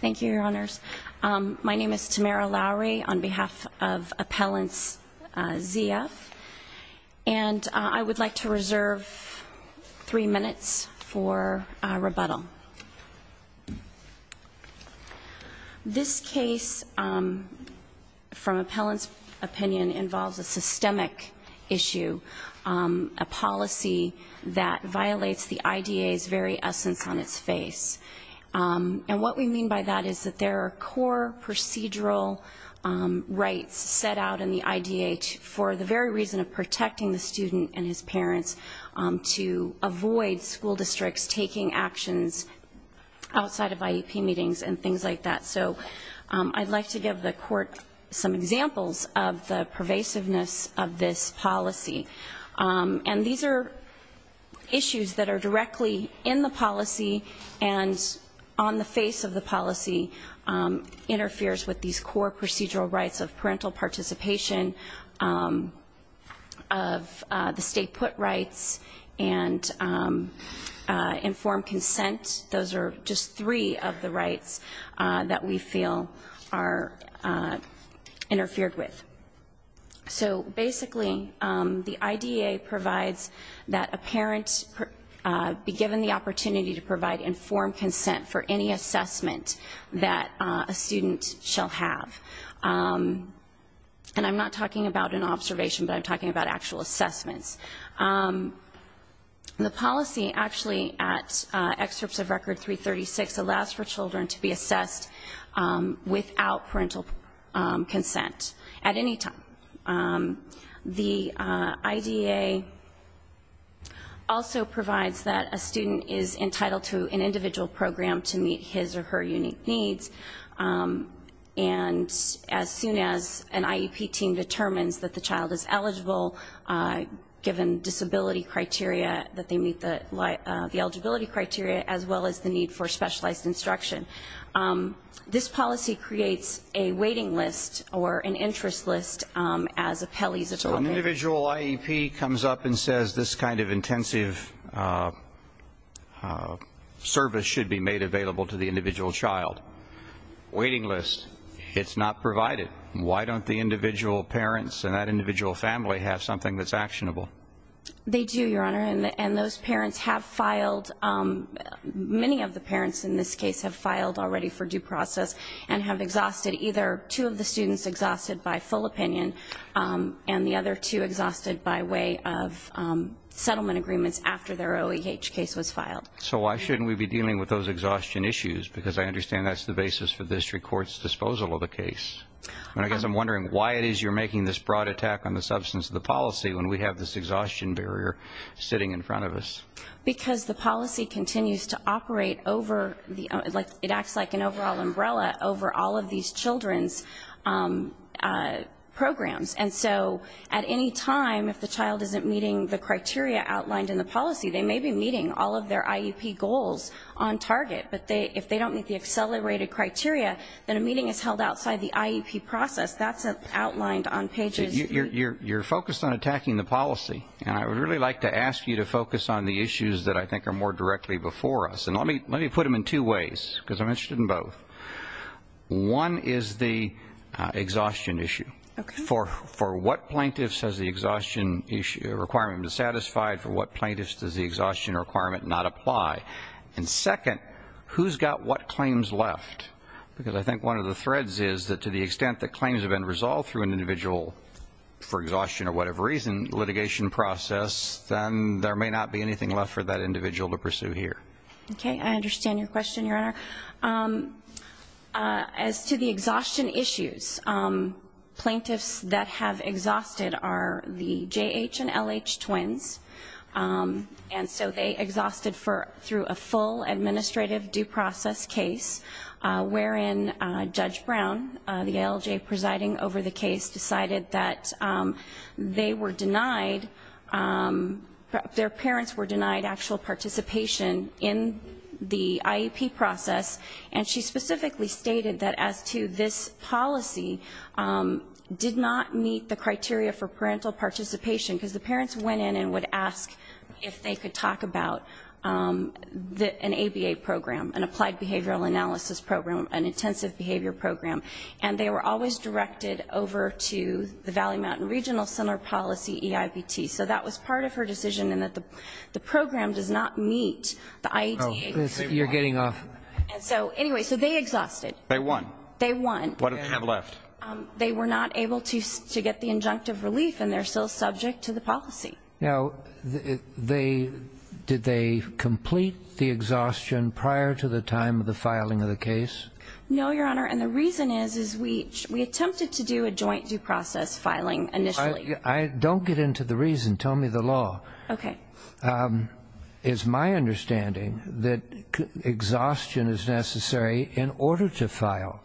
Thank you, Your Honors. My name is Tamara Lowry on behalf of Appellants Z.F. And I would like to reserve three minutes for rebuttal. This case, from Appellants' opinion, involves a systemic issue, a policy that violates the IDA's very essence on its face. And what we mean by that is that there are core procedural rights set out in the IDA for the very reason of protecting the student and his parents to avoid school districts taking actions outside of IEP meetings and things like that. So I'd like to give the Court some examples of the pervasiveness of this policy. And these are issues that are directly in the policy and on the face of the policy, interferes with these core procedural rights of parental participation, of the state put rights, and informed consent. Those are just three of the rights that we feel are interfered with. So basically, the IDA provides that a parent be given the opportunity to provide informed consent for any assessment that a student shall have. And I'm not talking about an observation, but I'm talking about actual assessments. The policy, actually, at Excerpts of Record 336, allows for children to be assessed without parental consent at any time. The IDA also provides that a student is entitled to an individual program to meet his or her unique needs. And as soon as an IEP team determines that the child is eligible, given disability criteria, that they meet the eligibility criteria, as well as the need for specialized instruction, this policy creates a waiting list or an interest list as appellees. So an individual IEP comes up and says, this kind of intensive service should be made available to the individual child. Waiting list, it's not provided. Why don't the individual parents and that individual family have something that's actionable? They do, Your Honor, and those parents have filed. Many of the parents in this case have filed already for due process and have exhausted either two of the students exhausted by full opinion and the other two exhausted by way of settlement agreements after their OEH case was filed. So why shouldn't we be dealing with those exhaustion issues? Because I understand that's the basis for the district court's disposal of the case. I guess I'm wondering why it is you're making this broad attack on the substance of the policy when we have this exhaustion barrier sitting in front of us. Because the policy continues to operate over, it acts like an overall umbrella over all of these children's programs. And so at any time, if the child isn't meeting the criteria outlined in the policy, they may be meeting all of their IEP goals on target. But if they don't meet the accelerated criteria, then a meeting is held outside the IEP process. That's outlined on pages. You're focused on attacking the policy, and I would really like to ask you to focus on the issues that I think are more directly before us. And let me put them in two ways, because I'm interested in both. One is the exhaustion issue. For what plaintiffs has the exhaustion requirement been satisfied? For what plaintiffs does the exhaustion requirement not apply? And second, who's got what claims left? Because I think one of the threads is that to the extent that claims have been resolved through an individual for exhaustion or whatever reason litigation process, then there may not be anything left for that individual to pursue here. Okay. I understand your question, Your Honor. As to the exhaustion issues, plaintiffs that have exhausted are the JH and LH twins. And so they exhausted through a full administrative due process case, wherein Judge Brown, the ALJ presiding over the case, decided that they were denied, their parents were denied actual participation in the IEP process, and she specifically stated that as to this policy did not meet the criteria for parental participation because the parents went in and would ask if they could talk about an ABA program, an applied behavioral analysis program, an intensive behavior program, and they were always directed over to the Valley Mountain Regional Center policy EIPT. So that was part of her decision in that the program does not meet the IEP. You're getting off. And so anyway, so they exhausted. They won. They won. What did they have left? They were not able to get the injunctive relief, and they're still subject to the policy. Now, did they complete the exhaustion prior to the time of the filing of the case? No, Your Honor, and the reason is we attempted to do a joint due process filing initially. Don't get into the reason. Tell me the law. Okay. It's my understanding that exhaustion is necessary in order to file.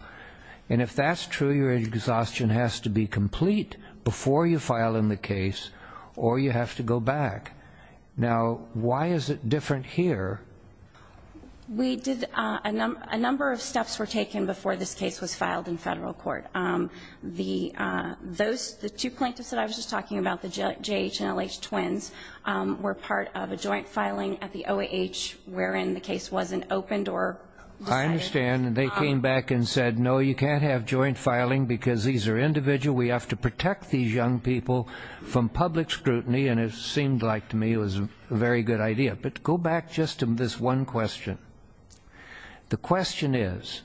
And if that's true, your exhaustion has to be complete before you file in the case or you have to go back. Now, why is it different here? A number of steps were taken before this case was filed in federal court. The two plaintiffs that I was just talking about, the JH and LH twins, were part of a joint filing at the OAH wherein the case wasn't opened or decided. I understand, and they came back and said, no, you can't have joint filing because these are individual. We have to protect these young people from public scrutiny, and it seemed like to me it was a very good idea. But go back just to this one question. The question is,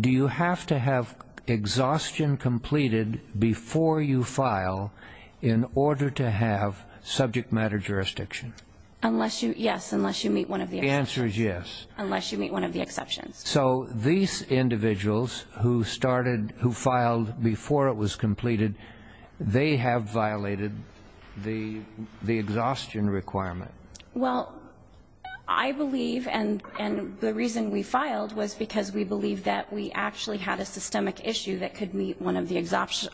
do you have to have exhaustion completed before you file in order to have subject matter jurisdiction? Yes, unless you meet one of the exceptions. The answer is yes. Unless you meet one of the exceptions. So these individuals who started, who filed before it was completed, they have violated the exhaustion requirement. Well, I believe, and the reason we filed was because we believed that we actually had a systemic issue that could meet one of the exhaustion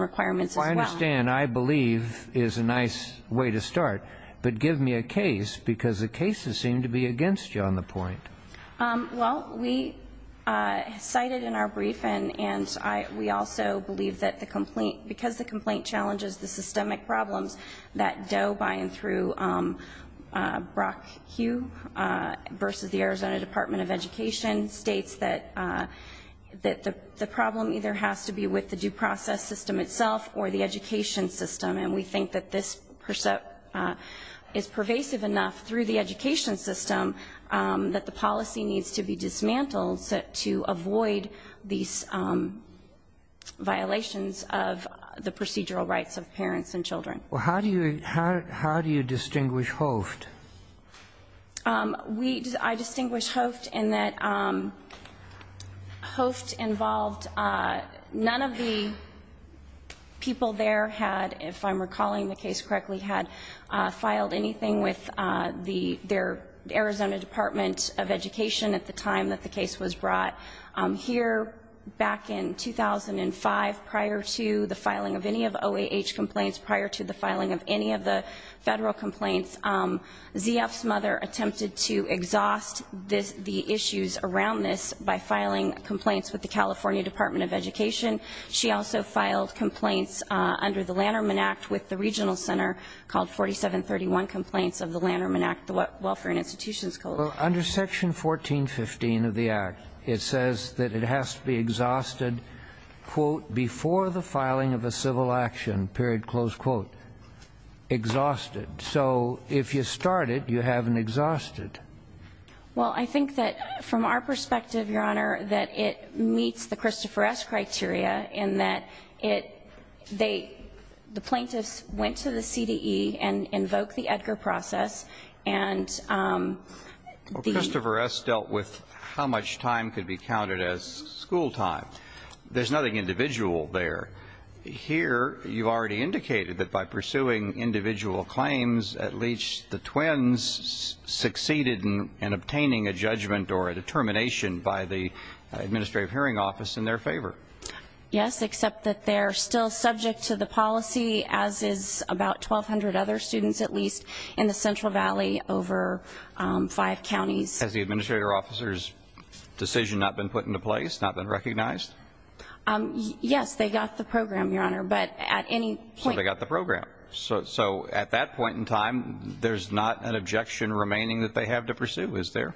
requirements as well. I understand, I believe, is a nice way to start. But give me a case, because the cases seem to be against you on the point. Well, we cited in our briefing, and we also believe that the complaint, because the complaint challenges the systemic problems that Doe, by and through Brock Hugh, versus the Arizona Department of Education, states that the problem either has to be with the due process system itself or the education system. And we think that this is pervasive enough through the education system that the policy needs to be dismantled to avoid these violations of the procedural rights of parents and children. Well, how do you distinguish Hoft? We, I distinguish Hoft in that Hoft involved, none of the people there had, if I'm recalling the case correctly, had filed anything with their Arizona Department of Education at the time that the case was brought. Here, back in 2005, prior to the filing of any of OAH complaints, prior to the filing of any of the federal complaints, ZF's mother attempted to exhaust the issues around this by filing complaints with the California Department of Education. She also filed complaints under the Lanterman Act with the regional center called 4731 Complaints of the Lanterman Act, the Welfare and Institutions Coalition. Well, under Section 1415 of the Act, it says that it has to be exhausted, quote, before the filing of a civil action, period, close quote. Exhausted. So if you start it, you have an exhausted. Well, I think that from our perspective, Your Honor, that it meets the Christopher S. criteria in that it, they, the plaintiffs went to the CDE and invoked the Edgar process. Well, Christopher S. dealt with how much time could be counted as school time. There's nothing individual there. Here, you've already indicated that by pursuing individual claims, at least the twins succeeded in obtaining a judgment or a determination by the Administrative Hearing Office in their favor. Yes, except that they're still subject to the policy, as is about 1,200 other students at least, in the Central Valley over five counties. Has the Administrator officer's decision not been put into place, not been recognized? Yes, they got the program, Your Honor, but at any point. So they got the program. So at that point in time, there's not an objection remaining that they have to pursue, is there?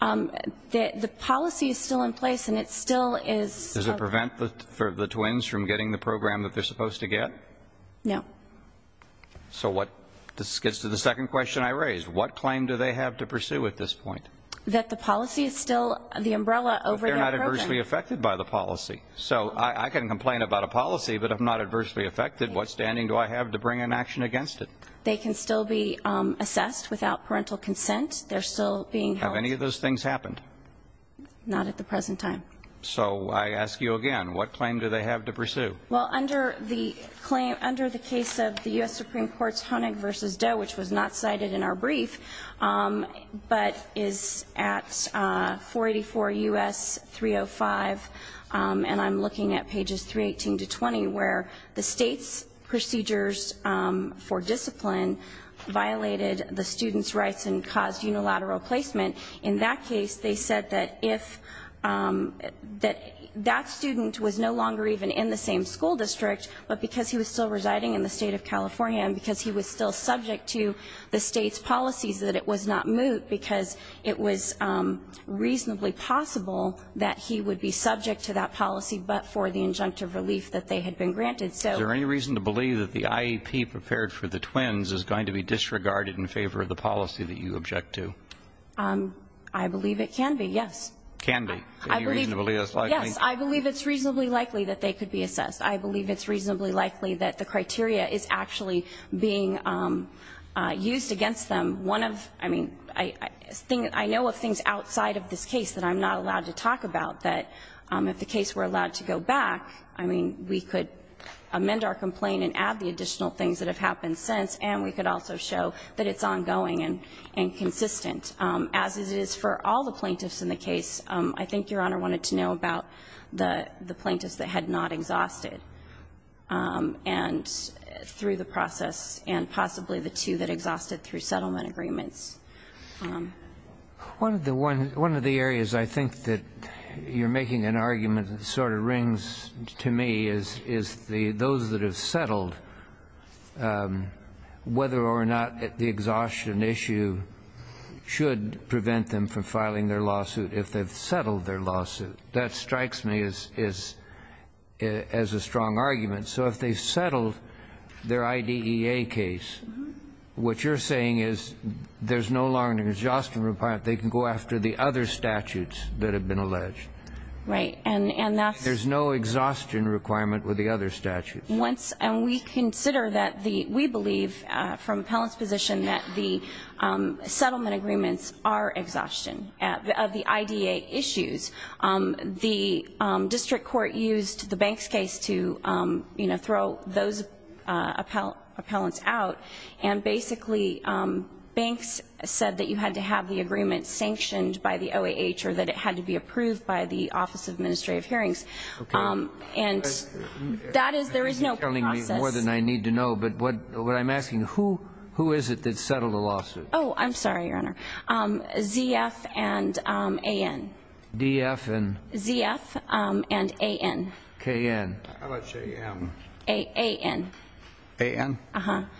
The policy is still in place, and it still is. Does it prevent the twins from getting the program that they're supposed to get? No. So this gets to the second question I raised. What claim do they have to pursue at this point? That the policy is still the umbrella over their program. But they're not adversely affected by the policy. So I can complain about a policy, but if I'm not adversely affected, what standing do I have to bring an action against it? They can still be assessed without parental consent. They're still being held. Have any of those things happened? So I ask you again, what claim do they have to pursue? Well, under the case of the U.S. Supreme Court's Honig v. Doe, which was not cited in our brief, but is at 484 U.S. 305, and I'm looking at pages 318 to 320, where the state's procedures for discipline violated the student's rights and caused unilateral placement. In that case, they said that if that student was no longer even in the same school district, but because he was still residing in the state of California and because he was still subject to the state's policies, that it was not moot because it was reasonably possible that he would be subject to that policy but for the injunctive relief that they had been granted. Is there any reason to believe that the IEP prepared for the twins is going to be disregarded in favor of the policy that you object to? I believe it can be, yes. Can be? Any reason to believe that's likely? Yes, I believe it's reasonably likely that they could be assessed. I believe it's reasonably likely that the criteria is actually being used against them. One of, I mean, I know of things outside of this case that I'm not allowed to talk about that if the case were allowed to go back, I mean, we could amend our complaint and add the additional things that have happened since, and we could also show that it's ongoing and consistent. As it is for all the plaintiffs in the case, I think Your Honor wanted to know about the plaintiffs that had not exhausted through the process and possibly the two that exhausted through settlement agreements. One of the areas I think that you're making an argument that sort of rings to me is those that have settled, whether or not the exhaustion issue should prevent them from filing their lawsuit if they've settled their lawsuit. That strikes me as a strong argument. So if they've settled their IDEA case, what you're saying is there's no longer an exhaustion requirement. They can go after the other statutes that have been alleged. Right. And that's There's no exhaustion requirement with the other statutes. Once, and we consider that the, we believe from appellant's position that the settlement agreements are exhaustion of the IDEA issues. The district court used the Banks case to, you know, throw those appellants out, and basically Banks said that you had to have the agreement sanctioned by the OAH or that it had to be approved by the Office of Administrative Hearings. Okay. And that is, there is no process. You're telling me more than I need to know, but what I'm asking, who is it that settled the lawsuit? Oh, I'm sorry, Your Honor. ZF and AN. DF and? ZF and AN. KN. How about JN? AN. AN?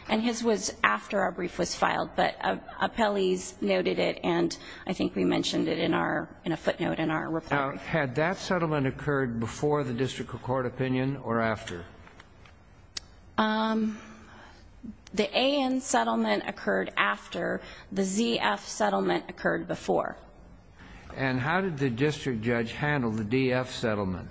And his was after our brief was filed, but appellees noted it, and I think we mentioned it in our, in a footnote in our report. Now, had that settlement occurred before the district court opinion or after? The AN settlement occurred after the ZF settlement occurred before. And how did the district judge handle the DF settlement?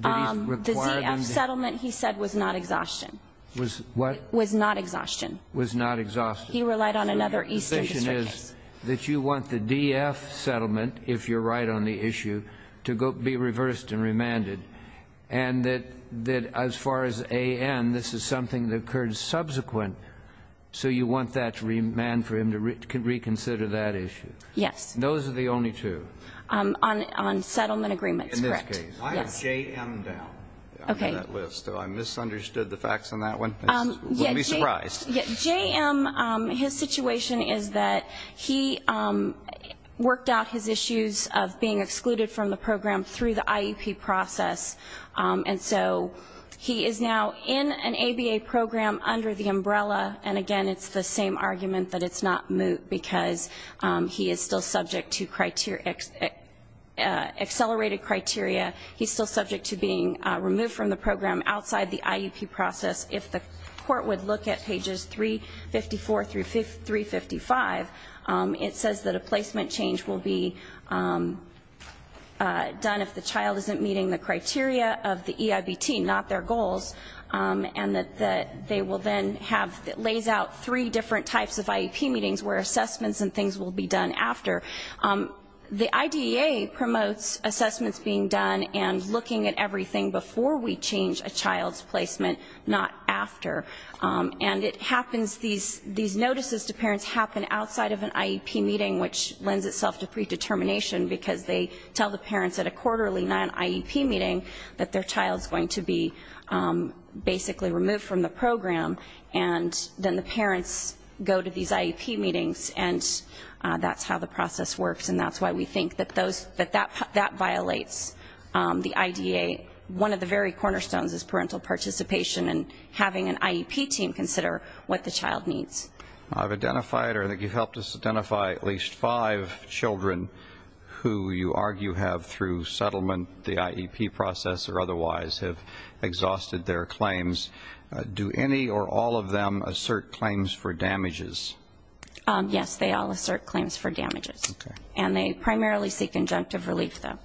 The ZF settlement, he said, was not exhaustion. Was what? Was not exhaustion. Was not exhaustion. He relied on another eastern district case. So the decision is that you want the DF settlement, if you're right on the issue, to be reversed and remanded, and that as far as AN, this is something that occurred subsequent, so you want that to remand for him to reconsider that issue? Yes. And those are the only two? On settlement agreements, correct. In this case. Yes. Why is JM down on that list? Do I misunderstood the facts on that one? I wouldn't be surprised. JM, his situation is that he worked out his issues of being excluded from the program through the IEP process, and so he is now in an ABA program under the umbrella, and, again, it's the same argument that it's not moot because he is still subject to accelerated criteria. He's still subject to being removed from the program outside the IEP process. If the court would look at pages 354 through 355, it says that a placement change will be done if the child isn't meeting the criteria of the EIBT, not their goals, and that they will then have, lays out three different types of IEP meetings where assessments and things will be done after. The IDEA promotes assessments being done and looking at everything before we change a child's placement, not after. And it happens, these notices to parents happen outside of an IEP meeting, which lends itself to predetermination because they tell the parents at a quarterly non-IEP meeting that their child is going to be basically removed from the program, and then the parents go to these IEP meetings, and that's how the process works, and that's why we think that that violates the IDEA. One of the very cornerstones is parental participation and having an IEP team consider what the child needs. I've identified, or I think you've helped us identify, at least five children who you argue have, through settlement, the IEP process, or otherwise, have exhausted their claims. Do any or all of them assert claims for damages? Yes, they all assert claims for damages, and they primarily seek injunctive relief, though,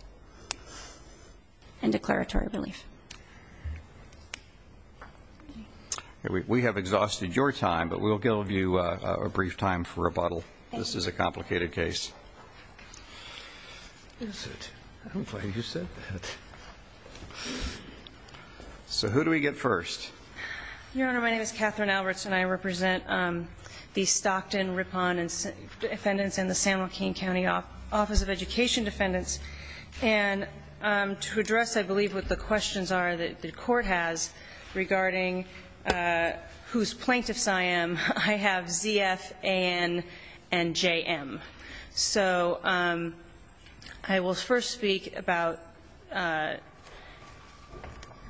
and declaratory relief. We have exhausted your time, but we'll give you a brief time for rebuttal. Thank you. This is a complicated case. I'm glad you said that. So who do we get first? Your Honor, my name is Catherine Alberts, and I represent the Stockton Rippon Defendants and the San Joaquin County Office of Education Defendants. And to address, I believe, what the questions are that the Court has regarding whose plaintiffs I am, I have Z.F., A.N., and J.M. So I will first speak about ----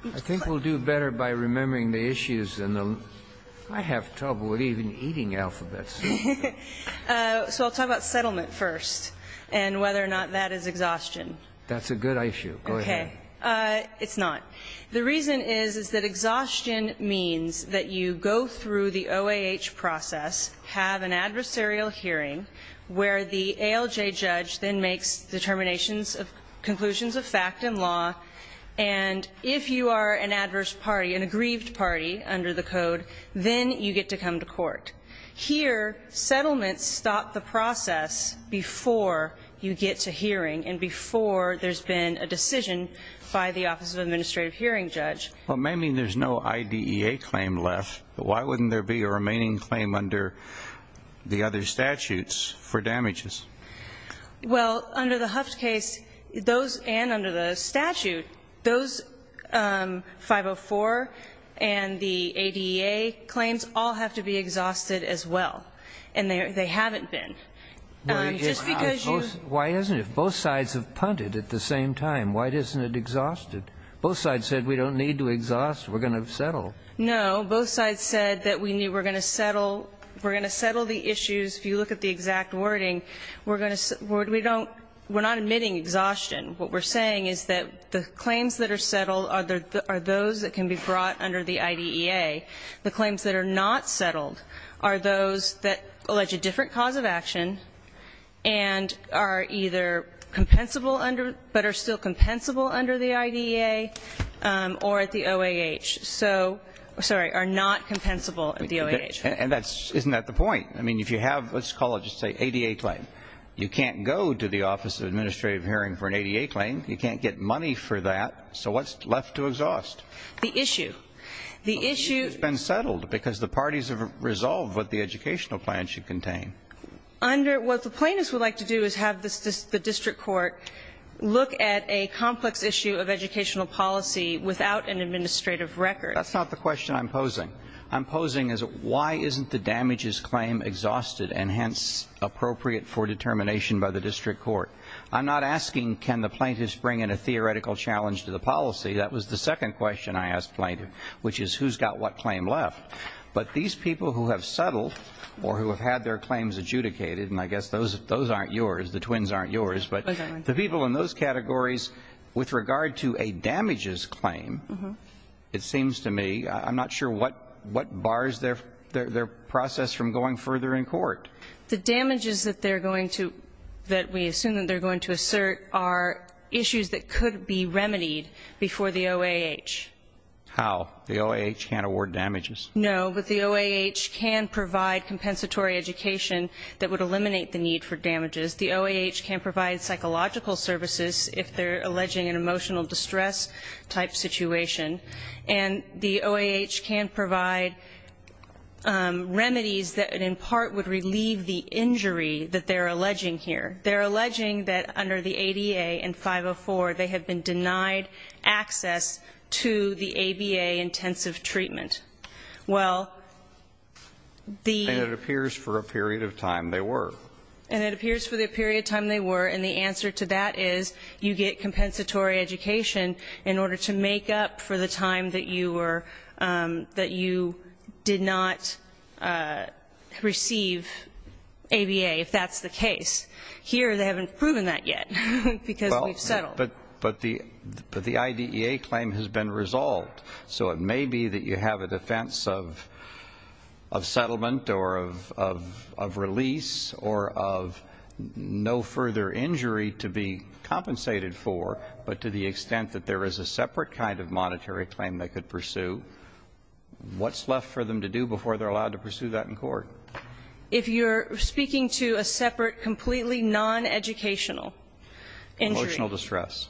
I think we'll do better by remembering the issues. I have trouble with even eating alphabets. So I'll talk about settlement first and whether or not that is exhaustion. That's a good issue. Go ahead. It's not. The reason is, is that exhaustion means that you go through the OAH process, have an adversarial hearing where the ALJ judge then makes determinations, conclusions of fact and law, and if you are an adverse party, an aggrieved party under the code, then you get to come to court. Here, settlements stop the process before you get to hearing and before there's been a decision by the Office of Administrative Hearing Judge. Well, it may mean there's no IDEA claim left, but why wouldn't there be a remaining claim under the other statutes for damages? Well, under the Huff's case and under the statute, those 504 and the ADEA claims all have to be exhausted as well, and they haven't been. Why isn't it? If both sides have punted at the same time, why isn't it exhausted? Both sides said we don't need to exhaust, we're going to settle. No. Both sides said that we knew we're going to settle. We're going to settle the issues. If you look at the exact wording, we're going to we're not admitting exhaustion. What we're saying is that the claims that are settled are those that can be brought under the IDEA. The claims that are not settled are those that allege a different cause of action and are either compensable under, but are still compensable under the IDEA or at the OAH. So, sorry, are not compensable at the OAH. And that's, isn't that the point? I mean, if you have, let's call it just say ADA claim. You can't go to the Office of Administrative Hearing for an ADA claim. You can't get money for that. So what's left to exhaust? The issue. The issue. The issue has been settled because the parties have resolved what the educational plan should contain. Under, what the plaintiffs would like to do is have the district court look at a complex issue of educational policy without an administrative record. That's not the question I'm posing. I'm posing as why isn't the damages claim exhausted and hence appropriate for determination by the district court? I'm not asking can the plaintiffs bring in a theoretical challenge to the policy. That was the second question I asked plaintiff, which is who's got what claim left. But these people who have settled or who have had their claims adjudicated, and I guess those aren't yours, the twins aren't yours. But the people in those categories with regard to a damages claim, it seems to me, I'm not sure what bars their process from going further in court. The damages that they're going to, that we assume that they're going to assert, there are issues that could be remedied before the OAH. How? The OAH can't award damages? No, but the OAH can provide compensatory education that would eliminate the need for damages. The OAH can provide psychological services if they're alleging an emotional distress type situation. And the OAH can provide remedies that in part would relieve the injury that they're alleging here. They're alleging that under the ADA in 504 they have been denied access to the ABA intensive treatment. Well, the ---- And it appears for a period of time they were. And it appears for the period of time they were. And the answer to that is you get compensatory education in order to make up for the time that you were, that you did not receive ABA if that's the case. Here they haven't proven that yet because we've settled. But the IDEA claim has been resolved. So it may be that you have a defense of settlement or of release or of no further injury to be compensated for, but to the extent that there is a separate kind of monetary claim they could pursue, what's left for them to do before they're allowed to pursue that in court? If you're speaking to a separate completely noneducational injury. Emotional distress.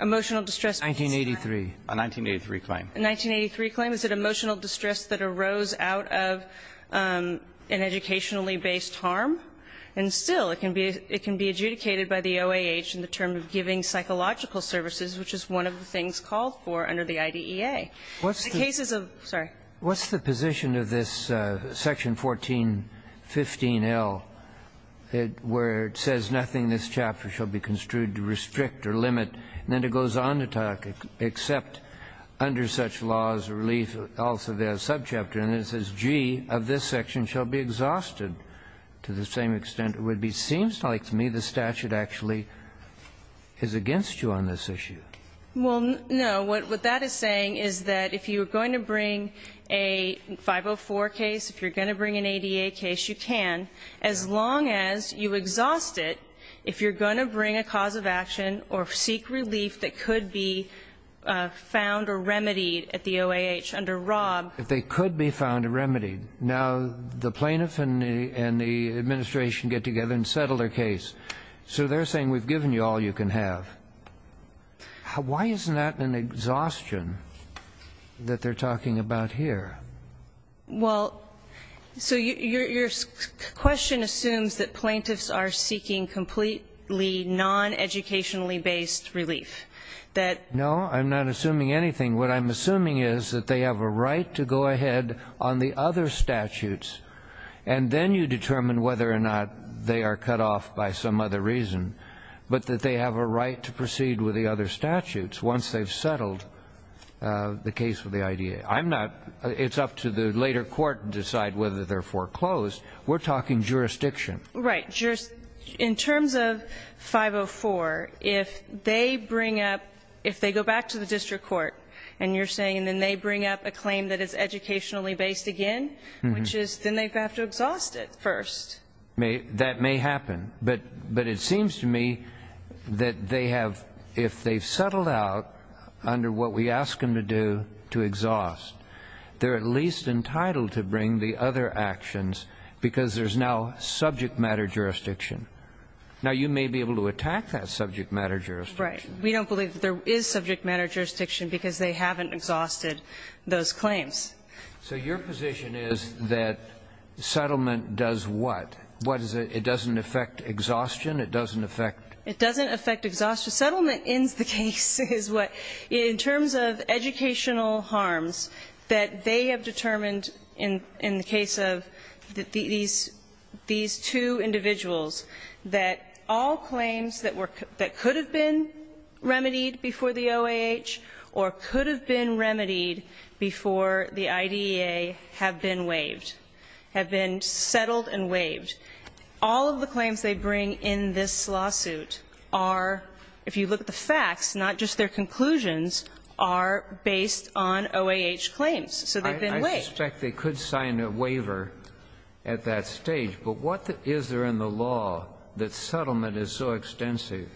Emotional distress. 1983. A 1983 claim. A 1983 claim. Is it emotional distress that arose out of an educationally based harm? And still it can be adjudicated by the OAH in the term of giving psychological services, which is one of the things called for under the IDEA. The cases of ---- Sorry. What's the position of this section 1415L where it says nothing in this chapter shall be construed to restrict or limit, and then it goes on to talk except under such laws relief also there is a subchapter and it says, G, of this section shall be exhausted to the same extent it would be. It seems like to me the statute actually is against you on this issue. Well, no. What that is saying is that if you're going to bring a 504 case, if you're going to bring an ADA case, you can, as long as you exhaust it if you're going to bring a cause of action or seek relief that could be found or remedied at the OAH under Rob. If they could be found or remedied. Now, the plaintiff and the administration get together and settle their case. So they're saying we've given you all you can have. Why isn't that an exhaustion that they're talking about here? Well, so your question assumes that plaintiffs are seeking completely noneducationally-based relief. No, I'm not assuming anything. What I'm assuming is that they have a right to go ahead on the other statutes, and then you determine whether or not they are cut off by some other reason, but that they have a right to proceed with the other statutes once they've settled the case with the IDA. It's up to the later court to decide whether they're foreclosed. We're talking jurisdiction. Right. In terms of 504, if they go back to the district court and you're saying then they bring up a claim that is educationally-based again, which is then they have to exhaust it first. That may happen, but it seems to me that if they've settled out under what we ask them to do to exhaust, they're at least entitled to bring the other actions because there's now subject matter jurisdiction. Now, you may be able to attack that subject matter jurisdiction. Right. We don't believe that there is subject matter jurisdiction because they haven't exhausted those claims. So your position is that settlement does what? What is it? It doesn't affect exhaustion? It doesn't affect? It doesn't affect exhaustion. Settlement ends the case is what. In terms of educational harms that they have determined in the case of these two individuals, that all claims that could have been remedied before the OAH or could have been remedied before the IDEA have been waived, have been settled and waived. All of the claims they bring in this lawsuit are, if you look at the facts, not just their conclusions, are based on OAH claims. So they've been waived. I suspect they could sign a waiver at that stage. But what is there in the law that settlement is so extensive?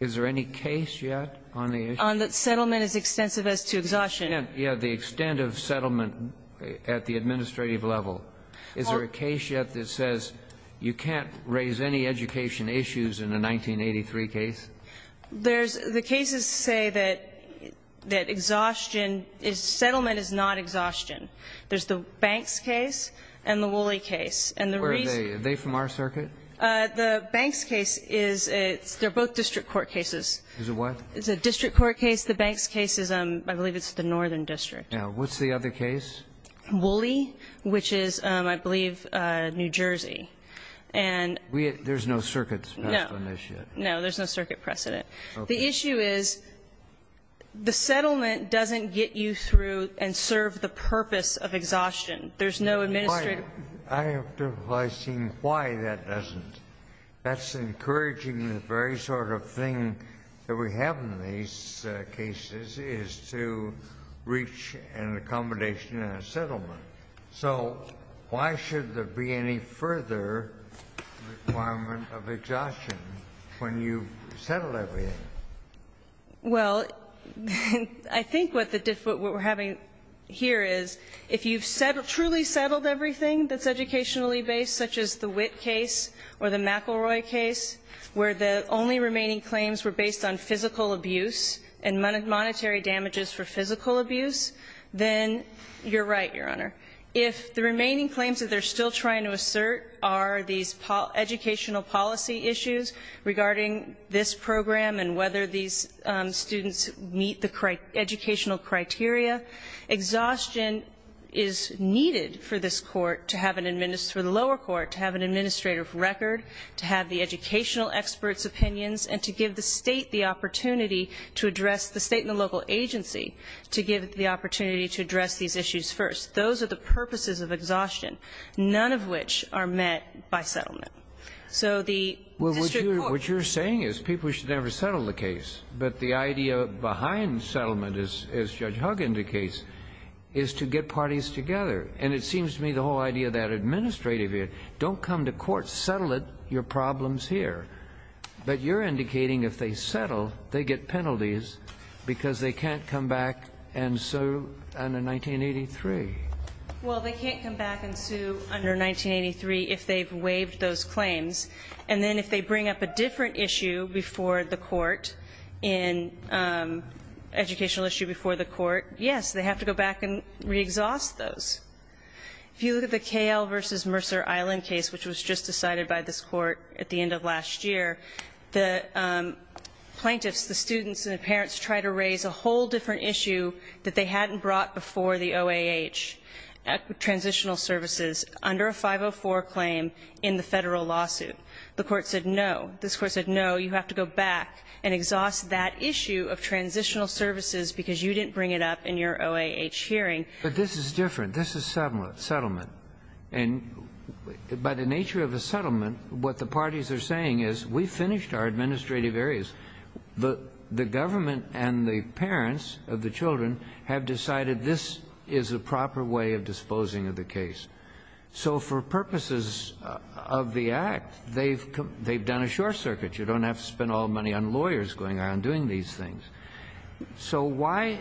Is there any case yet on the issue? On that settlement is extensive as to exhaustion. Yes. The extent of settlement at the administrative level. Is there a case yet that says you can't raise any education issues in a 1983 case? There's the cases say that, that exhaustion is, settlement is not exhaustion. There's the Banks case and the Woolley case. And the reason. Where are they? Are they from our circuit? The Banks case is, it's, they're both district court cases. Is it what? It's a district court case. The Banks case is, I believe it's the northern district. Now, what's the other case? Woolley, which is, I believe, New Jersey. And. We, there's no circuits passed on this yet? No, there's no circuit precedent. Okay. The issue is, the settlement doesn't get you through and serve the purpose of exhaustion. There's no administrative. I have to advise him why that doesn't. That's encouraging the very sort of thing that we have in these cases is to reach an accommodation and a settlement. So why should there be any further requirement of exhaustion when you've settled everything? Well, I think what the, what we're having here is, if you've truly settled everything that's educationally based, such as the Witt case or the McElroy case, where the only remaining claims were based on physical abuse and monetary damages for physical abuse, then you're right, Your Honor. If the remaining claims that they're still trying to assert are these educational policy issues regarding this program and whether these students meet the educational criteria, exhaustion is needed for this court to have an, for the lower court to have an administrative record, to have the educational experts' opinions, and to give the state and the local agency to give the opportunity to address these issues first. Those are the purposes of exhaustion, none of which are met by settlement. So the district court ---- Well, what you're saying is people should never settle the case. But the idea behind settlement, as Judge Hugg indicates, is to get parties together. And it seems to me the whole idea of that administrative here, don't come to court, settle it, your problem's here. But you're indicating if they settle, they get penalties because they can't come back and sue under 1983. Well, they can't come back and sue under 1983 if they've waived those claims. And then if they bring up a different issue before the court, an educational issue before the court, yes, they have to go back and re-exhaust those. If you look at the KL v. Mercer Island case, which was just decided by this court at the end of last year, the plaintiffs, the students and the parents try to raise a whole different issue that they hadn't brought before the OAH, transitional services, under a 504 claim in the federal lawsuit. The court said no. This court said no, you have to go back and exhaust that issue of transitional services because you didn't bring it up in your OAH hearing. But this is different. This is settlement. And by the nature of a settlement, what the parties are saying is we finished our administrative areas. The government and the parents of the children have decided this is a proper way of disposing of the case. So for purposes of the Act, they've done a short circuit. You don't have to spend all the money on lawyers going around doing these things. So why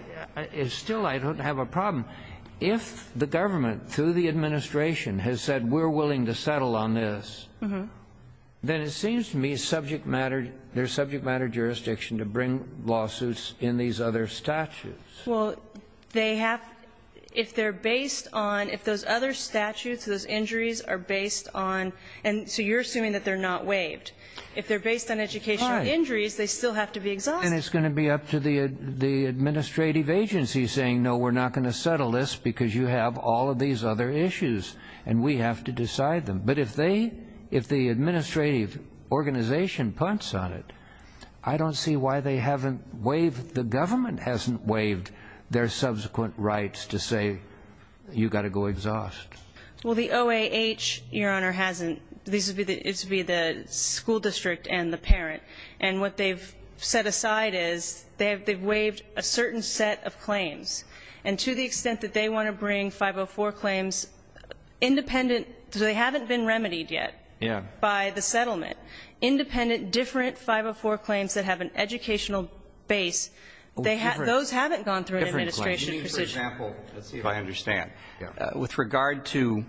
still I don't have a problem. Now, if the government, through the administration, has said we're willing to settle on this, then it seems to me subject matter, there's subject matter jurisdiction to bring lawsuits in these other statutes. Well, they have, if they're based on, if those other statutes, those injuries are based on, and so you're assuming that they're not waived. If they're based on educational injuries, they still have to be exhausted. And it's going to be up to the administrative agency saying, no, we're not going to settle this because you have all of these other issues and we have to decide them. But if they, if the administrative organization punts on it, I don't see why they haven't waived, the government hasn't waived, their subsequent rights to say you've got to go exhaust. Well, the OAH, Your Honor, hasn't. This would be the school district and the parent. And what they've set aside is they've waived a certain set of claims. And to the extent that they want to bring 504 claims independent, because they haven't been remedied yet by the settlement, independent, different 504 claims that have an educational base, those haven't gone through an administration precision. Let's see if I understand. With regard to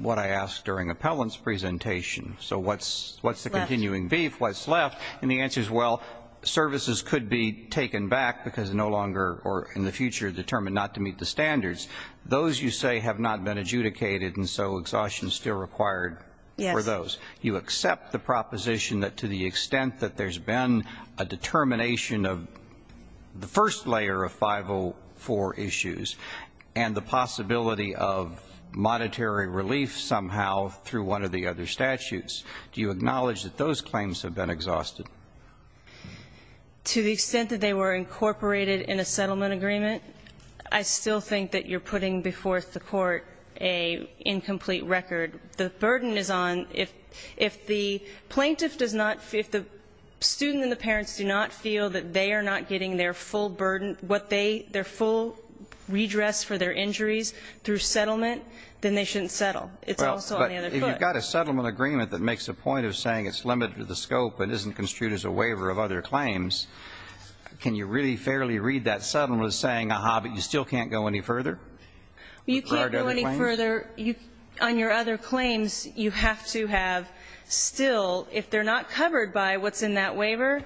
what I asked during Appellant's presentation, so what's the continuing beef, what's left? And the answer is, well, services could be taken back because no longer or in the future determined not to meet the standards. Those, you say, have not been adjudicated and so exhaustion is still required for those. You accept the proposition that to the extent that there's been a determination of the first layer of 504 issues and the possibility of monetary relief somehow through one of the other statutes, do you acknowledge that those claims have been exhausted? To the extent that they were incorporated in a settlement agreement, I still think that you're putting before the Court an incomplete record. The burden is on if the plaintiff does not, if the student and the parents do not feel that they are not getting their full burden, what they, their full redress for their injuries through settlement, then they shouldn't settle. It's also on the other foot. Well, but if you've got a settlement agreement that makes a point of saying it's limited to the scope and isn't construed as a waiver of other claims, can you really fairly read that settlement as saying, aha, but you still can't go any further? With regard to the claims? You can't go any further. On your other claims, you have to have still, if they're not covered by what's in that waiver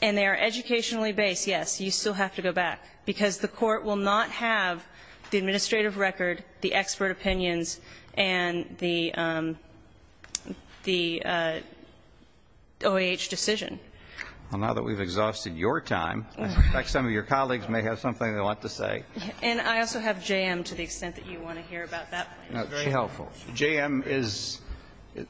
and they are educationally based, yes, you still have to go back, because the Court will not have the administrative record, the expert opinions, and the OAH decision. Well, now that we've exhausted your time, in fact, some of your colleagues may have something they want to say. And I also have J.M. to the extent that you want to hear about that. Very helpful. J.M. is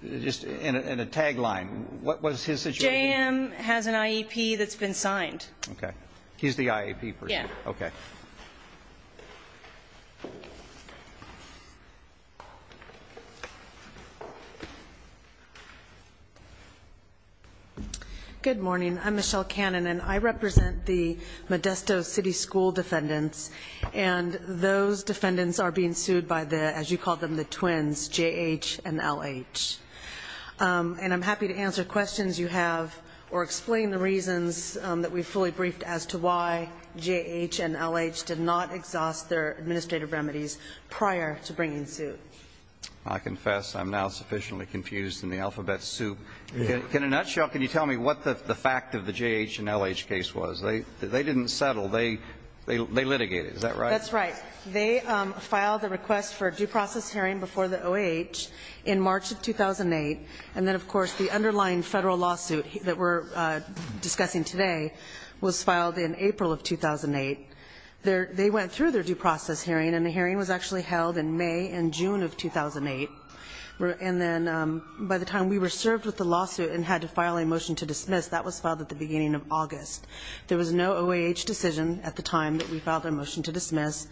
just in a tagline. What was his situation? J.M. has an IEP that's been signed. Okay. He's the IEP person. Okay. Good morning. I'm Michelle Cannon, and I represent the Modesto City School defendants, and those defendants are being sued by the, as you called them, the twins, J.H. and L.H. And I'm happy to answer questions you have or explain the reasons that we fully briefed as to why J.H. and L.H. did not exhaust their administrative remedies prior to bringing suit. I confess I'm now sufficiently confused in the alphabet soup. In a nutshell, can you tell me what the fact of the J.H. and L.H. case was? They didn't settle. They litigated. Is that right? That's right. They filed a request for due process hearing before the OAH in March of 2008, and then, of course, the underlying federal lawsuit that we're discussing today was filed in April of 2008. They went through their due process hearing, and the hearing was actually held in May and June of 2008. And then by the time we were served with the lawsuit and had to file a motion to dismiss, that was filed at the beginning of August. There was no OAH decision at the time that we filed a motion to dismiss.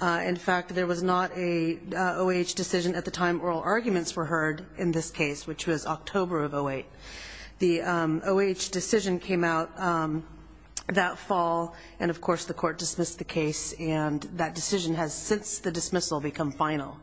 In fact, there was not a OAH decision at the time oral arguments were heard in this case, which was October of 2008. The OAH decision came out that fall, and, of course, the court dismissed the case, and that decision has since the dismissal become final.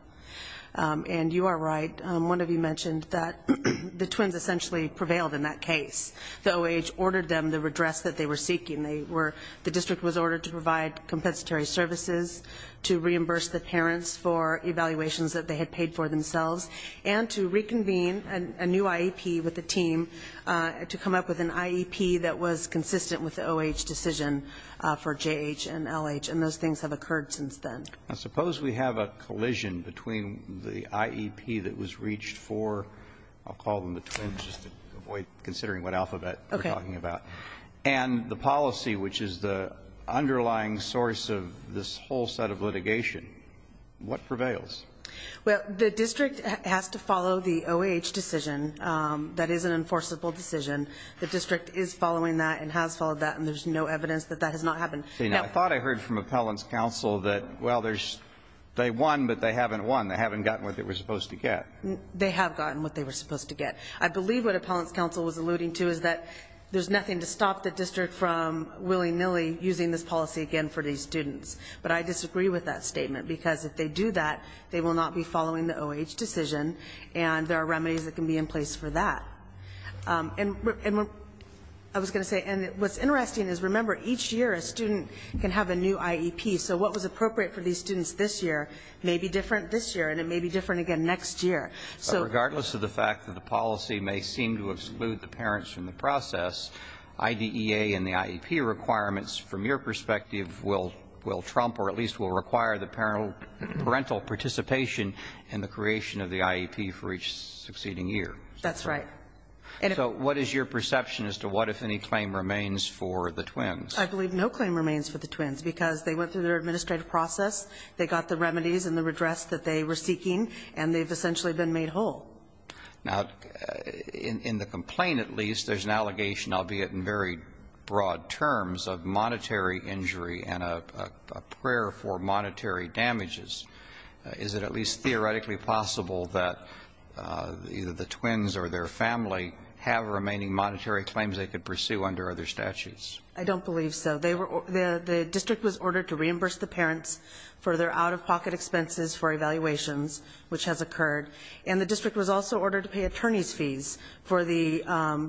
And you are right. One of you mentioned that the twins essentially prevailed in that case. The OAH ordered them the redress that they were seeking. The district was ordered to provide compensatory services, to reimburse the parents for evaluations that they had paid for themselves, and to reconvene a new IEP with the team to come up with an IEP that was consistent with the OAH decision for J.H. and L.H., and those things have occurred since then. Now, suppose we have a collision between the IEP that was reached for, I'll call them the twins just to avoid considering what alphabet we're talking about, and the Well, the district has to follow the OAH decision. That is an enforceable decision. The district is following that and has followed that, and there's no evidence that that has not happened. I thought I heard from appellants' counsel that, well, they won, but they haven't won. They haven't gotten what they were supposed to get. They have gotten what they were supposed to get. I believe what appellants' counsel was alluding to is that there's nothing to stop the district from willy-nilly using this policy again for these students, but I they will not be following the OAH decision, and there are remedies that can be in place for that. And I was going to say, and what's interesting is, remember, each year a student can have a new IEP, so what was appropriate for these students this year may be different this year, and it may be different again next year. So regardless of the fact that the policy may seem to exclude the parents from the process, IDEA and the IEP requirements, from your perspective, will trump or at will trump parental participation in the creation of the IEP for each succeeding year. That's right. So what is your perception as to what, if any, claim remains for the twins? I believe no claim remains for the twins, because they went through their administrative process, they got the remedies and the redress that they were seeking, and they've essentially been made whole. Now, in the complaint at least, there's an allegation, albeit in very broad terms, of monetary injury and a prayer for monetary damages. Is it at least theoretically possible that either the twins or their family have remaining monetary claims they could pursue under other statutes? I don't believe so. The district was ordered to reimburse the parents for their out-of-pocket expenses for evaluations, which has occurred, and the district was also ordered to pay attorneys' fees for the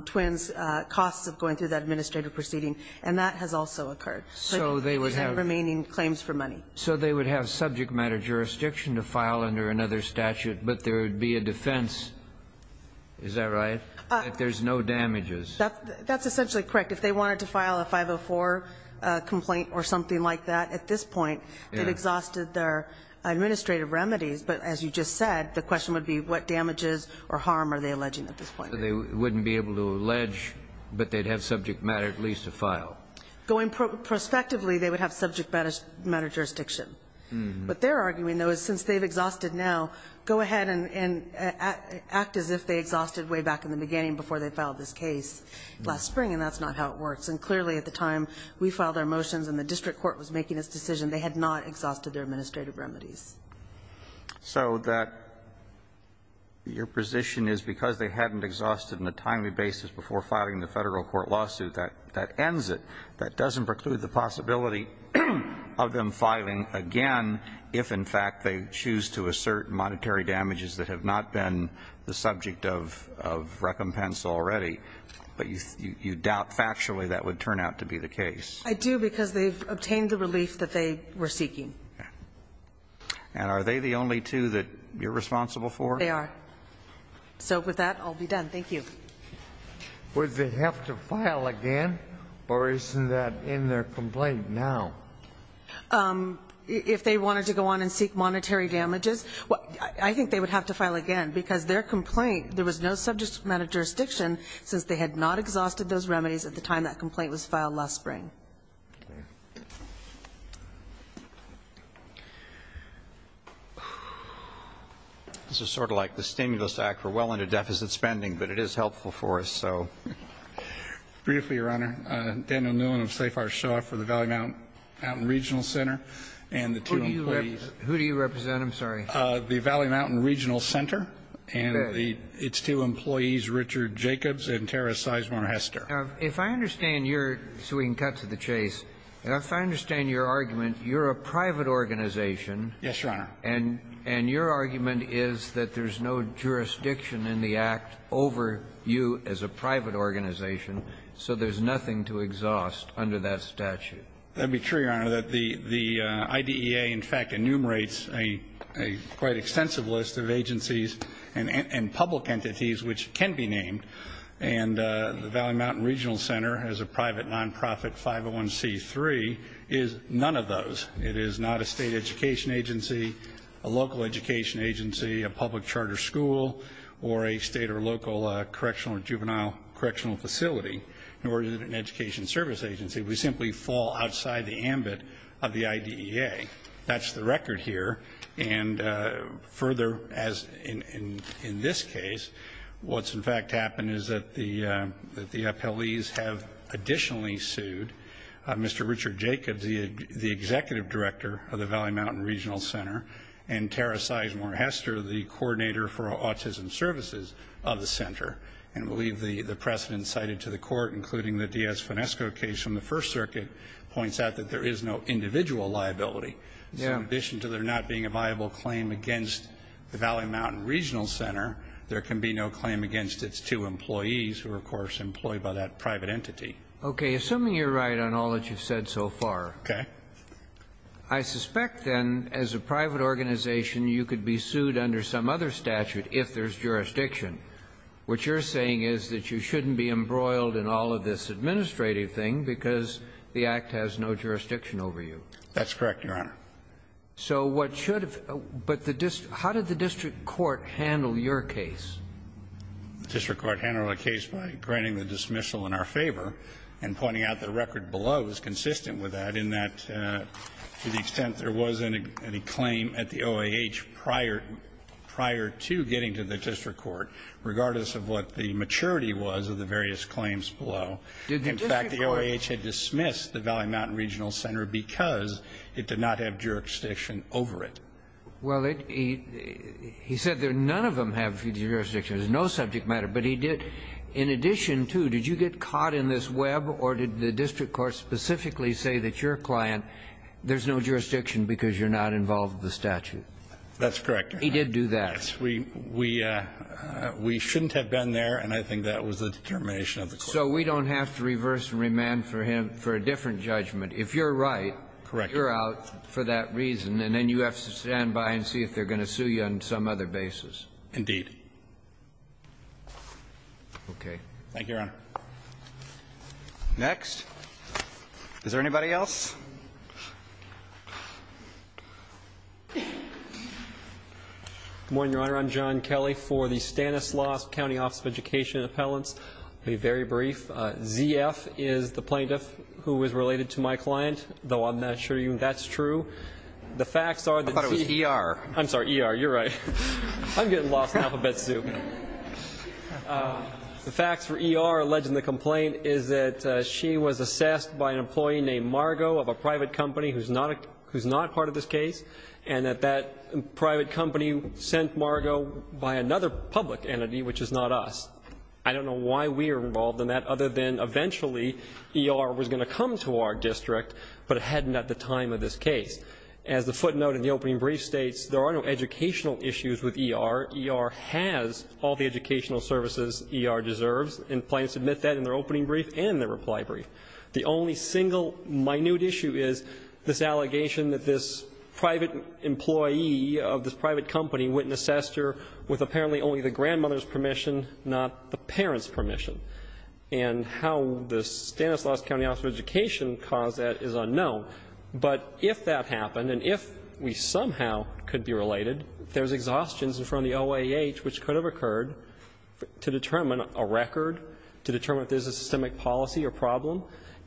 twins' costs of going through that administrative proceeding, and that has also occurred. So they would have remaining claims for money. So they would have subject matter jurisdiction to file under another statute, but there would be a defense, is that right, that there's no damages? That's essentially correct. If they wanted to file a 504 complaint or something like that at this point, they'd exhausted their administrative remedies. But as you just said, the question would be what damages or harm are they alleging at this point. They wouldn't be able to allege, but they'd have subject matter at least to file. Going prospectively, they would have subject matter jurisdiction. What they're arguing, though, is since they've exhausted now, go ahead and act as if they exhausted way back in the beginning before they filed this case last spring, and that's not how it works. And clearly at the time we filed our motions and the district court was making this decision, they had not exhausted their administrative remedies. So that your position is because they hadn't exhausted on a timely basis before filing the Federal court lawsuit, that ends it. That doesn't preclude the possibility of them filing again if, in fact, they choose to assert monetary damages that have not been the subject of recompense already. But you doubt factually that would turn out to be the case. I do, because they've obtained the relief that they were seeking. And are they the only two that you're responsible for? They are. So with that, I'll be done. Thank you. Would they have to file again, or isn't that in their complaint now? If they wanted to go on and seek monetary damages, I think they would have to file again, because their complaint, there was no subject matter jurisdiction since they had not exhausted those remedies at the time that complaint was filed last spring. Thank you. This is sort of like the Stimulus Act. We're well into deficit spending, but it is helpful for us. So. Briefly, Your Honor. Daniel Newman of Safar Shaw for the Valley Mountain Regional Center. And the two employees. Who do you represent? I'm sorry. The Valley Mountain Regional Center. And its two employees, Richard Jacobs and Tara Sizemore Hester. If I understand your, so we can cut to the chase, if I understand your argument, you're a private organization. Yes, Your Honor. And your argument is that there's no jurisdiction in the Act over you as a private organization, so there's nothing to exhaust under that statute. That would be true, Your Honor. The IDEA, in fact, enumerates a quite extensive list of agencies and public entities which can be named. And the Valley Mountain Regional Center, as a private nonprofit, 501C3, is none of those. It is not a state education agency, a local education agency, a public charter school, or a state or local correctional or juvenile correctional facility, nor is it an education service agency. We simply fall outside the ambit of the IDEA. That's the record here. And further, as in this case, what's, in fact, happened is that the appellees have additionally sued Mr. Richard Jacobs, the executive director of the Valley Mountain Regional Center, and Tara Sizemore Hester, the coordinator for autism services of the center. And I believe the precedent cited to the court, including the Diaz-Fonesco case from the First Circuit, points out that there is no individual liability. In addition to there not being a viable claim against the Valley Mountain Regional Center, there can be no claim against its two employees who are, of course, employed by that private entity. Okay. Assuming you're right on all that you've said so far. Okay. I suspect, then, as a private organization, you could be sued under some other statute if there's jurisdiction. What you're saying is that you shouldn't be embroiled in all of this administrative thing because the Act has no jurisdiction over you. That's correct, Your Honor. So what should have been the district court handle your case? The district court handled the case by granting the dismissal in our favor and pointing out the record below is consistent with that in that to the extent there was any claim at the OAH prior to getting to the district court, regardless of what the maturity was of the various claims below. In fact, the OAH had dismissed the Valley Mountain Regional Center because it did not have jurisdiction over it. Well, he said that none of them have jurisdiction. There's no subject matter. But he did, in addition to, did you get caught in this web, or did the district court specifically say that your client, there's no jurisdiction because you're not involved with the statute? That's correct, Your Honor. He did do that. We shouldn't have been there, and I think that was the determination of the court. So we don't have to reverse and remand for him for a different judgment. If you're right, you're out for that reason, and then you have to stand by and see if they're going to sue you on some other basis. Okay. Thank you, Your Honor. Next. Is there anybody else? Good morning, Your Honor. I'm John Kelly for the Stanislaus County Office of Education and Appellants. I'll be very brief. Z.F. is the plaintiff who was related to my client, though I'm not sure even that's true. I thought it was E.R. I'm sorry, E.R. You're right. I'm getting lost in alphabet soup. The facts for E.R. alleged in the complaint is that she was assessed by an employee named Margo of a private company who's not part of this case, and that that private company sent Margo by another public entity, which is not us. I don't know why we're involved in that other than eventually E.R. was going to come to our district, but it hadn't at the time of this case. As the footnote in the opening brief states, there are no educational issues with E.R. E.R. has all the educational services E.R. deserves, and plaintiffs admit that in their opening brief and their reply brief. And how the Stanislaus County Office of Education caused that is unknown. But if that happened, and if we somehow could be related, there's exhaustions in front of the OAH which could have occurred to determine a record, to determine if there's a systemic policy or problem,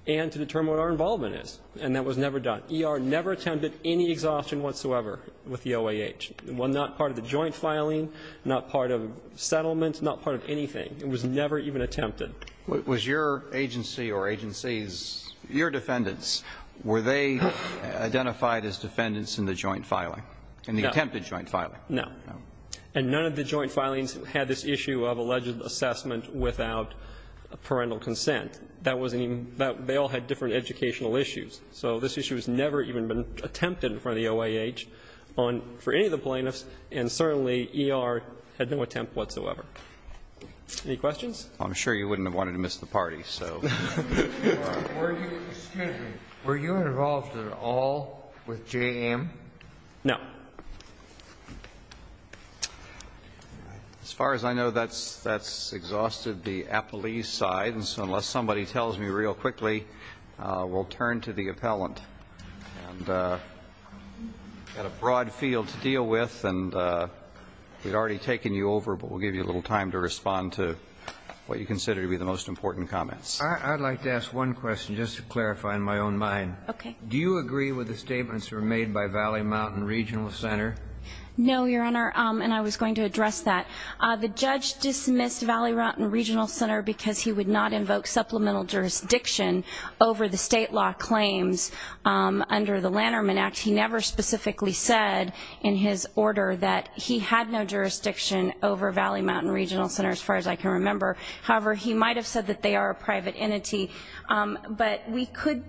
and to determine what our involvement is. And that was never done. E.R. never attended any exhaustion whatsoever with the OAH. Well, not part of the joint filing, not part of settlement, not part of anything. It was never even attempted. Roberts. Was your agency or agencies, your defendants, were they identified as defendants in the joint filing, in the attempted joint filing? No. And none of the joint filings had this issue of alleged assessment without parental consent. That wasn't even, they all had different educational issues. So this issue has never even been attempted in front of the OAH on, for any of the plaintiffs, and certainly E.R. had no attempt whatsoever. Any questions? I'm sure you wouldn't have wanted to miss the party, so. Were you involved at all with J.M.? No. As far as I know, that's exhausted the appellee's side. I'm going to turn to the appellant. I've got a broad field to deal with, and we've already taken you over, but we'll give you a little time to respond to what you consider to be the most important comments. I'd like to ask one question, just to clarify in my own mind. Okay. Do you agree with the statements that were made by Valley, Mountain Regional Center? No, Your Honor, and I was going to address that. The judge dismissed Valley, Mountain Regional Center because he would not invoke supplemental jurisdiction over the state law claims under the Lanterman Act. He never specifically said in his order that he had no jurisdiction over Valley, Mountain Regional Center, as far as I can remember. However, he might have said that they are a private entity. But we could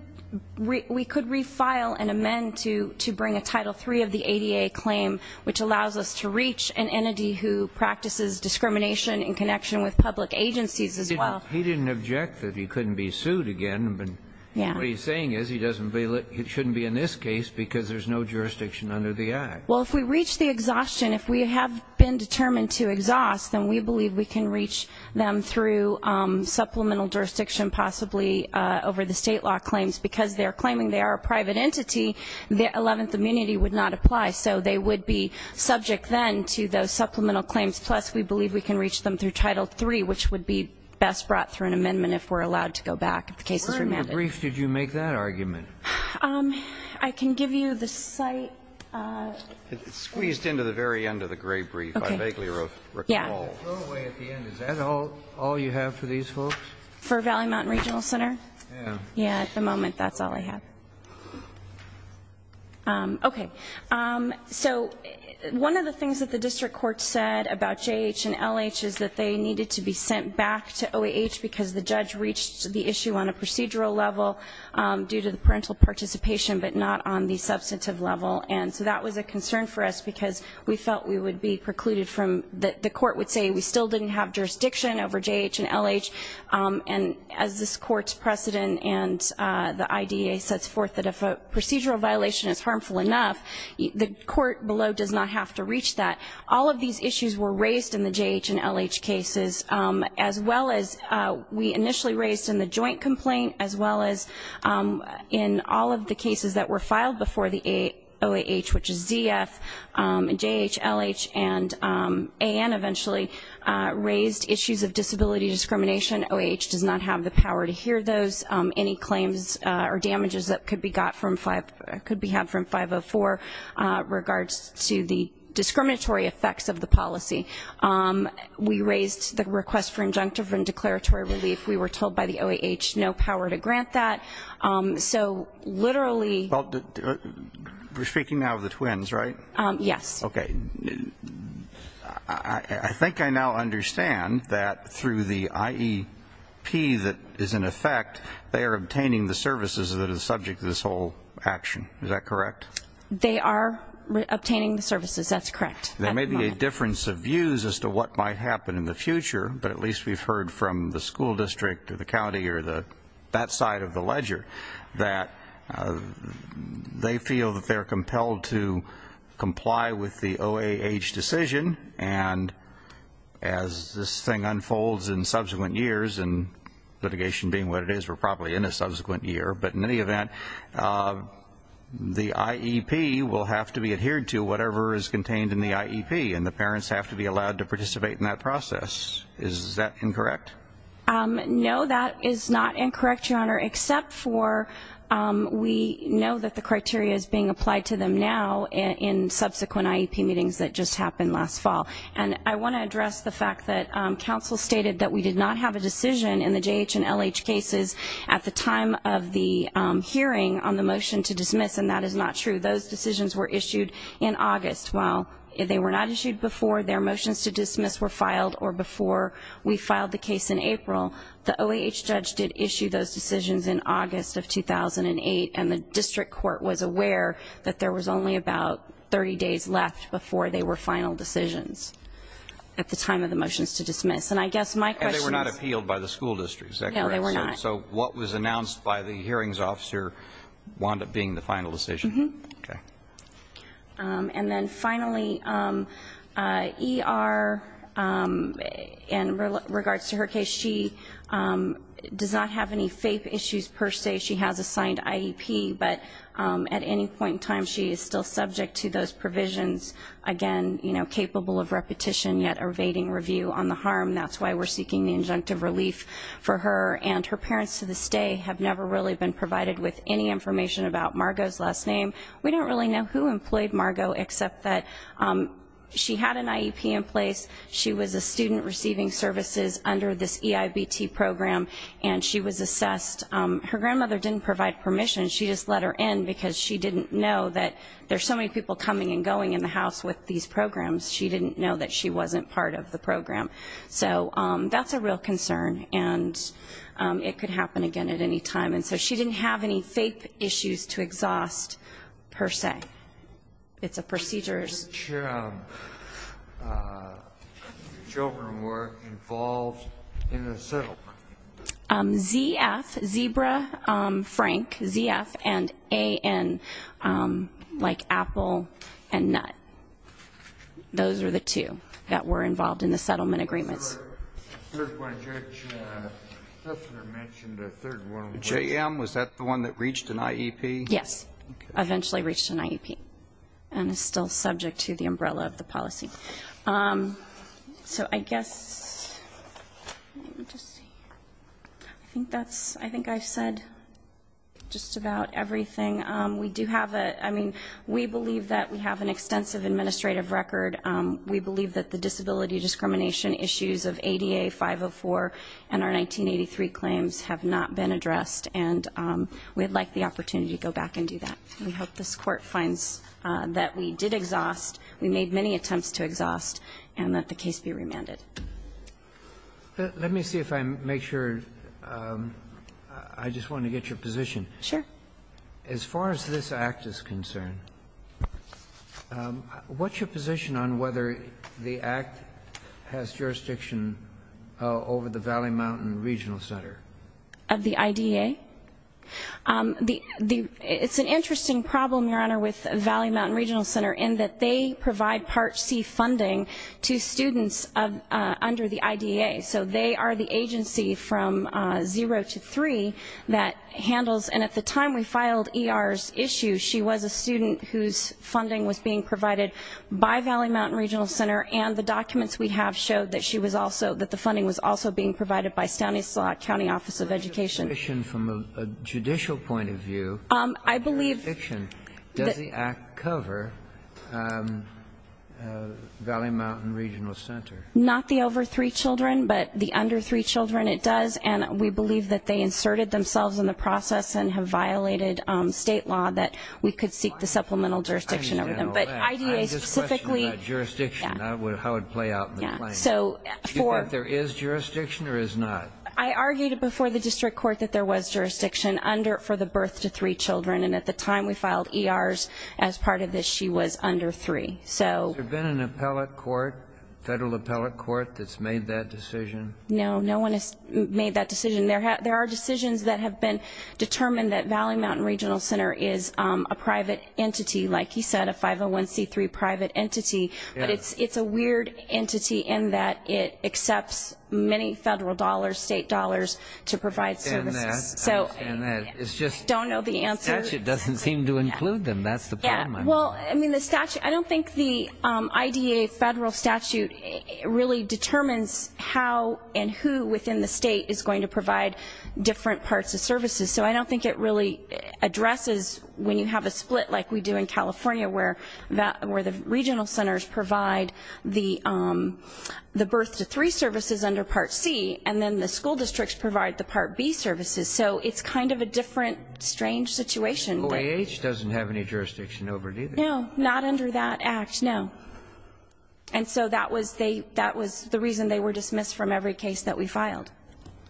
refile and amend to bring a Title III of the ADA claim, which allows us to reach an entity who practices discrimination in connection with public agencies as well. He didn't object that he couldn't be sued again, but what he's saying is he doesn't believe it shouldn't be in this case because there's no jurisdiction under the Act. Well, if we reach the exhaustion, if we have been determined to exhaust, then we believe we can reach them through supplemental jurisdiction, possibly over the state law claims. Because they're claiming they are a private entity, the Eleventh Amenity would not apply. So they would be subject then to those supplemental claims. Plus, we believe we can reach them through Title III, which would be best brought through an amendment if we're allowed to go back, if the case is remanded. Where in the brief did you make that argument? I can give you the site. It's squeezed into the very end of the gray brief, I vaguely recall. Yeah. Is that all you have for these folks? For Valley, Mountain Regional Center? Yeah. Yeah, at the moment, that's all I have. Okay. So one of the things that the district court said about JH and LH is that they needed to be sent back to OAH because the judge reached the issue on a procedural level due to the parental participation but not on the substantive level. And so that was a concern for us because we felt we would be precluded from the court would say we still didn't have jurisdiction over JH and LH. And as this court's precedent and the IDEA sets forth that if a procedural violation is harmful enough, the court below does not have to reach that. All of these issues were raised in the JH and LH cases as well as we initially raised in the joint complaint as well as in all of the cases that were filed before the OAH, which is ZF. JH, LH, and AN eventually raised issues of disability discrimination. OAH does not have the power to hear those. Any claims or damages that could be had from 504 regards to the discriminatory effects of the policy. We raised the request for injunctive and declaratory relief. We were told by the OAH no power to grant that. So literally... We're speaking now of the twins, right? Yes. Okay. I think I now understand that through the IEP that is in effect, they are obtaining the services that is subject to this whole action. Is that correct? They are obtaining the services. That's correct. There may be a difference of views as to what might happen in the future, but at least we've heard from the school district or the county or that side of the ledger that they feel that they're compelled to comply with the OAH decision, and as this thing unfolds in subsequent years, and litigation being what it is, we're probably in a subsequent year. But in any event, the IEP will have to be adhered to whatever is contained in the IEP, and the parents have to be allowed to participate in that process. Is that incorrect? No, that is not incorrect, Your Honor, except for we know that the criteria is being applied to them now in subsequent IEP meetings that just happened last fall. And I want to address the fact that counsel stated that we did not have a decision in the JH and LH cases at the time of the hearing on the motion to dismiss, and that is not true. Those decisions were issued in August. While they were not issued before their motions to dismiss were filed or before we filed the case in April, the OAH judge did issue those decisions in August of 2008, and the district court was aware that there was only about 30 days left before they were final decisions at the time of the motions to dismiss. And I guess my question is – And they were not appealed by the school district. Is that correct? No, they were not. So what was announced by the hearings officer wound up being the final decision? Mm-hmm. Okay. And then finally, ER, in regards to her case, she does not have any FAPE issues per se. She has a signed IEP, but at any point in time, she is still subject to those provisions, again, you know, capable of repetition yet evading review on the harm. That's why we're seeking the injunctive relief for her. And her parents, to this day, have never really been provided with any information about Margo's last name. We don't really know who employed Margo except that she had an IEP in place. She was a student receiving services under this EIBT program, and she was assessed. Her grandmother didn't provide permission. She just let her in because she didn't know that there's so many people coming and going in the house with these programs. She didn't know that she wasn't part of the program. So that's a real concern, and it could happen again at any time. And so she didn't have any FAPE issues to exhaust per se. It's a procedures. Which children were involved in the settlement? ZF, Zebra, Frank, ZF, and Ann, like Apple and Nut. Those were the two that were involved in the settlement agreements. J.M., was that the one that reached an IEP? Yes. Eventually reached an IEP and is still subject to the umbrella of the policy. So I guess, let me just see. I think I've said just about everything. I mean, we believe that we have an extensive administrative record. We believe that the disability discrimination issues of ADA 504 and our 1983 claims have not been addressed, and we'd like the opportunity to go back and do that. We hope this Court finds that we did exhaust, we made many attempts to exhaust, and that the case be remanded. Let me see if I make sure. I just want to get your position. Sure. As far as this Act is concerned, what's your position on whether the Act has jurisdiction over the Valley Mountain Regional Center? Of the IDEA? It's an interesting problem, Your Honor, with Valley Mountain Regional Center in that they provide Part C funding to students under the IDEA. So they are the agency from zero to three that handles, and at the time we filed ER's issue, she was a student whose funding was being provided by Valley Mountain Regional Center, and the documents we have show that she was also, that the funding was also being provided by Stanislaus County Office of Education. From a judicial point of view, does the Act cover Valley Mountain Regional Center? Not the over three children, but the under three children it does, and we believe that they inserted themselves in the process and have violated state law that we could seek the supplemental jurisdiction over them. But IDEA specifically. I have this question about jurisdiction, how it would play out in the plan. Do you think there is jurisdiction or is not? I argued before the District Court that there was jurisdiction for the birth to three children, and at the time we filed ER's as part of this, she was under three. Has there been an appellate court, federal appellate court that has made that decision? No, no one has made that decision. There are decisions that have been determined that Valley Mountain Regional Center is a private entity, like you said, a 501c3 private entity, but it's a weird entity in that it accepts many federal dollars, state dollars to provide services. I understand that. I don't know the answer. The statute doesn't seem to include them, that's the problem. Well, I mean, the statute, I don't think the IDEA federal statute really determines how and who within the state is going to provide different parts of services, so I don't think it really addresses when you have a split like we do in California where the regional centers provide the birth to three services under Part C and then the school districts provide the Part B services. So it's kind of a different, strange situation. OAH doesn't have any jurisdiction over it either. No, not under that act, no. And so that was the reason they were dismissed from every case that we filed.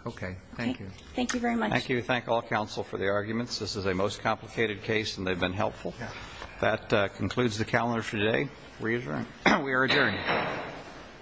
Okay. Thank you. Thank you very much. Thank you. Thank all counsel for the arguments. This is a most complicated case and they've been helpful. That concludes the calendar for today. We are adjourned.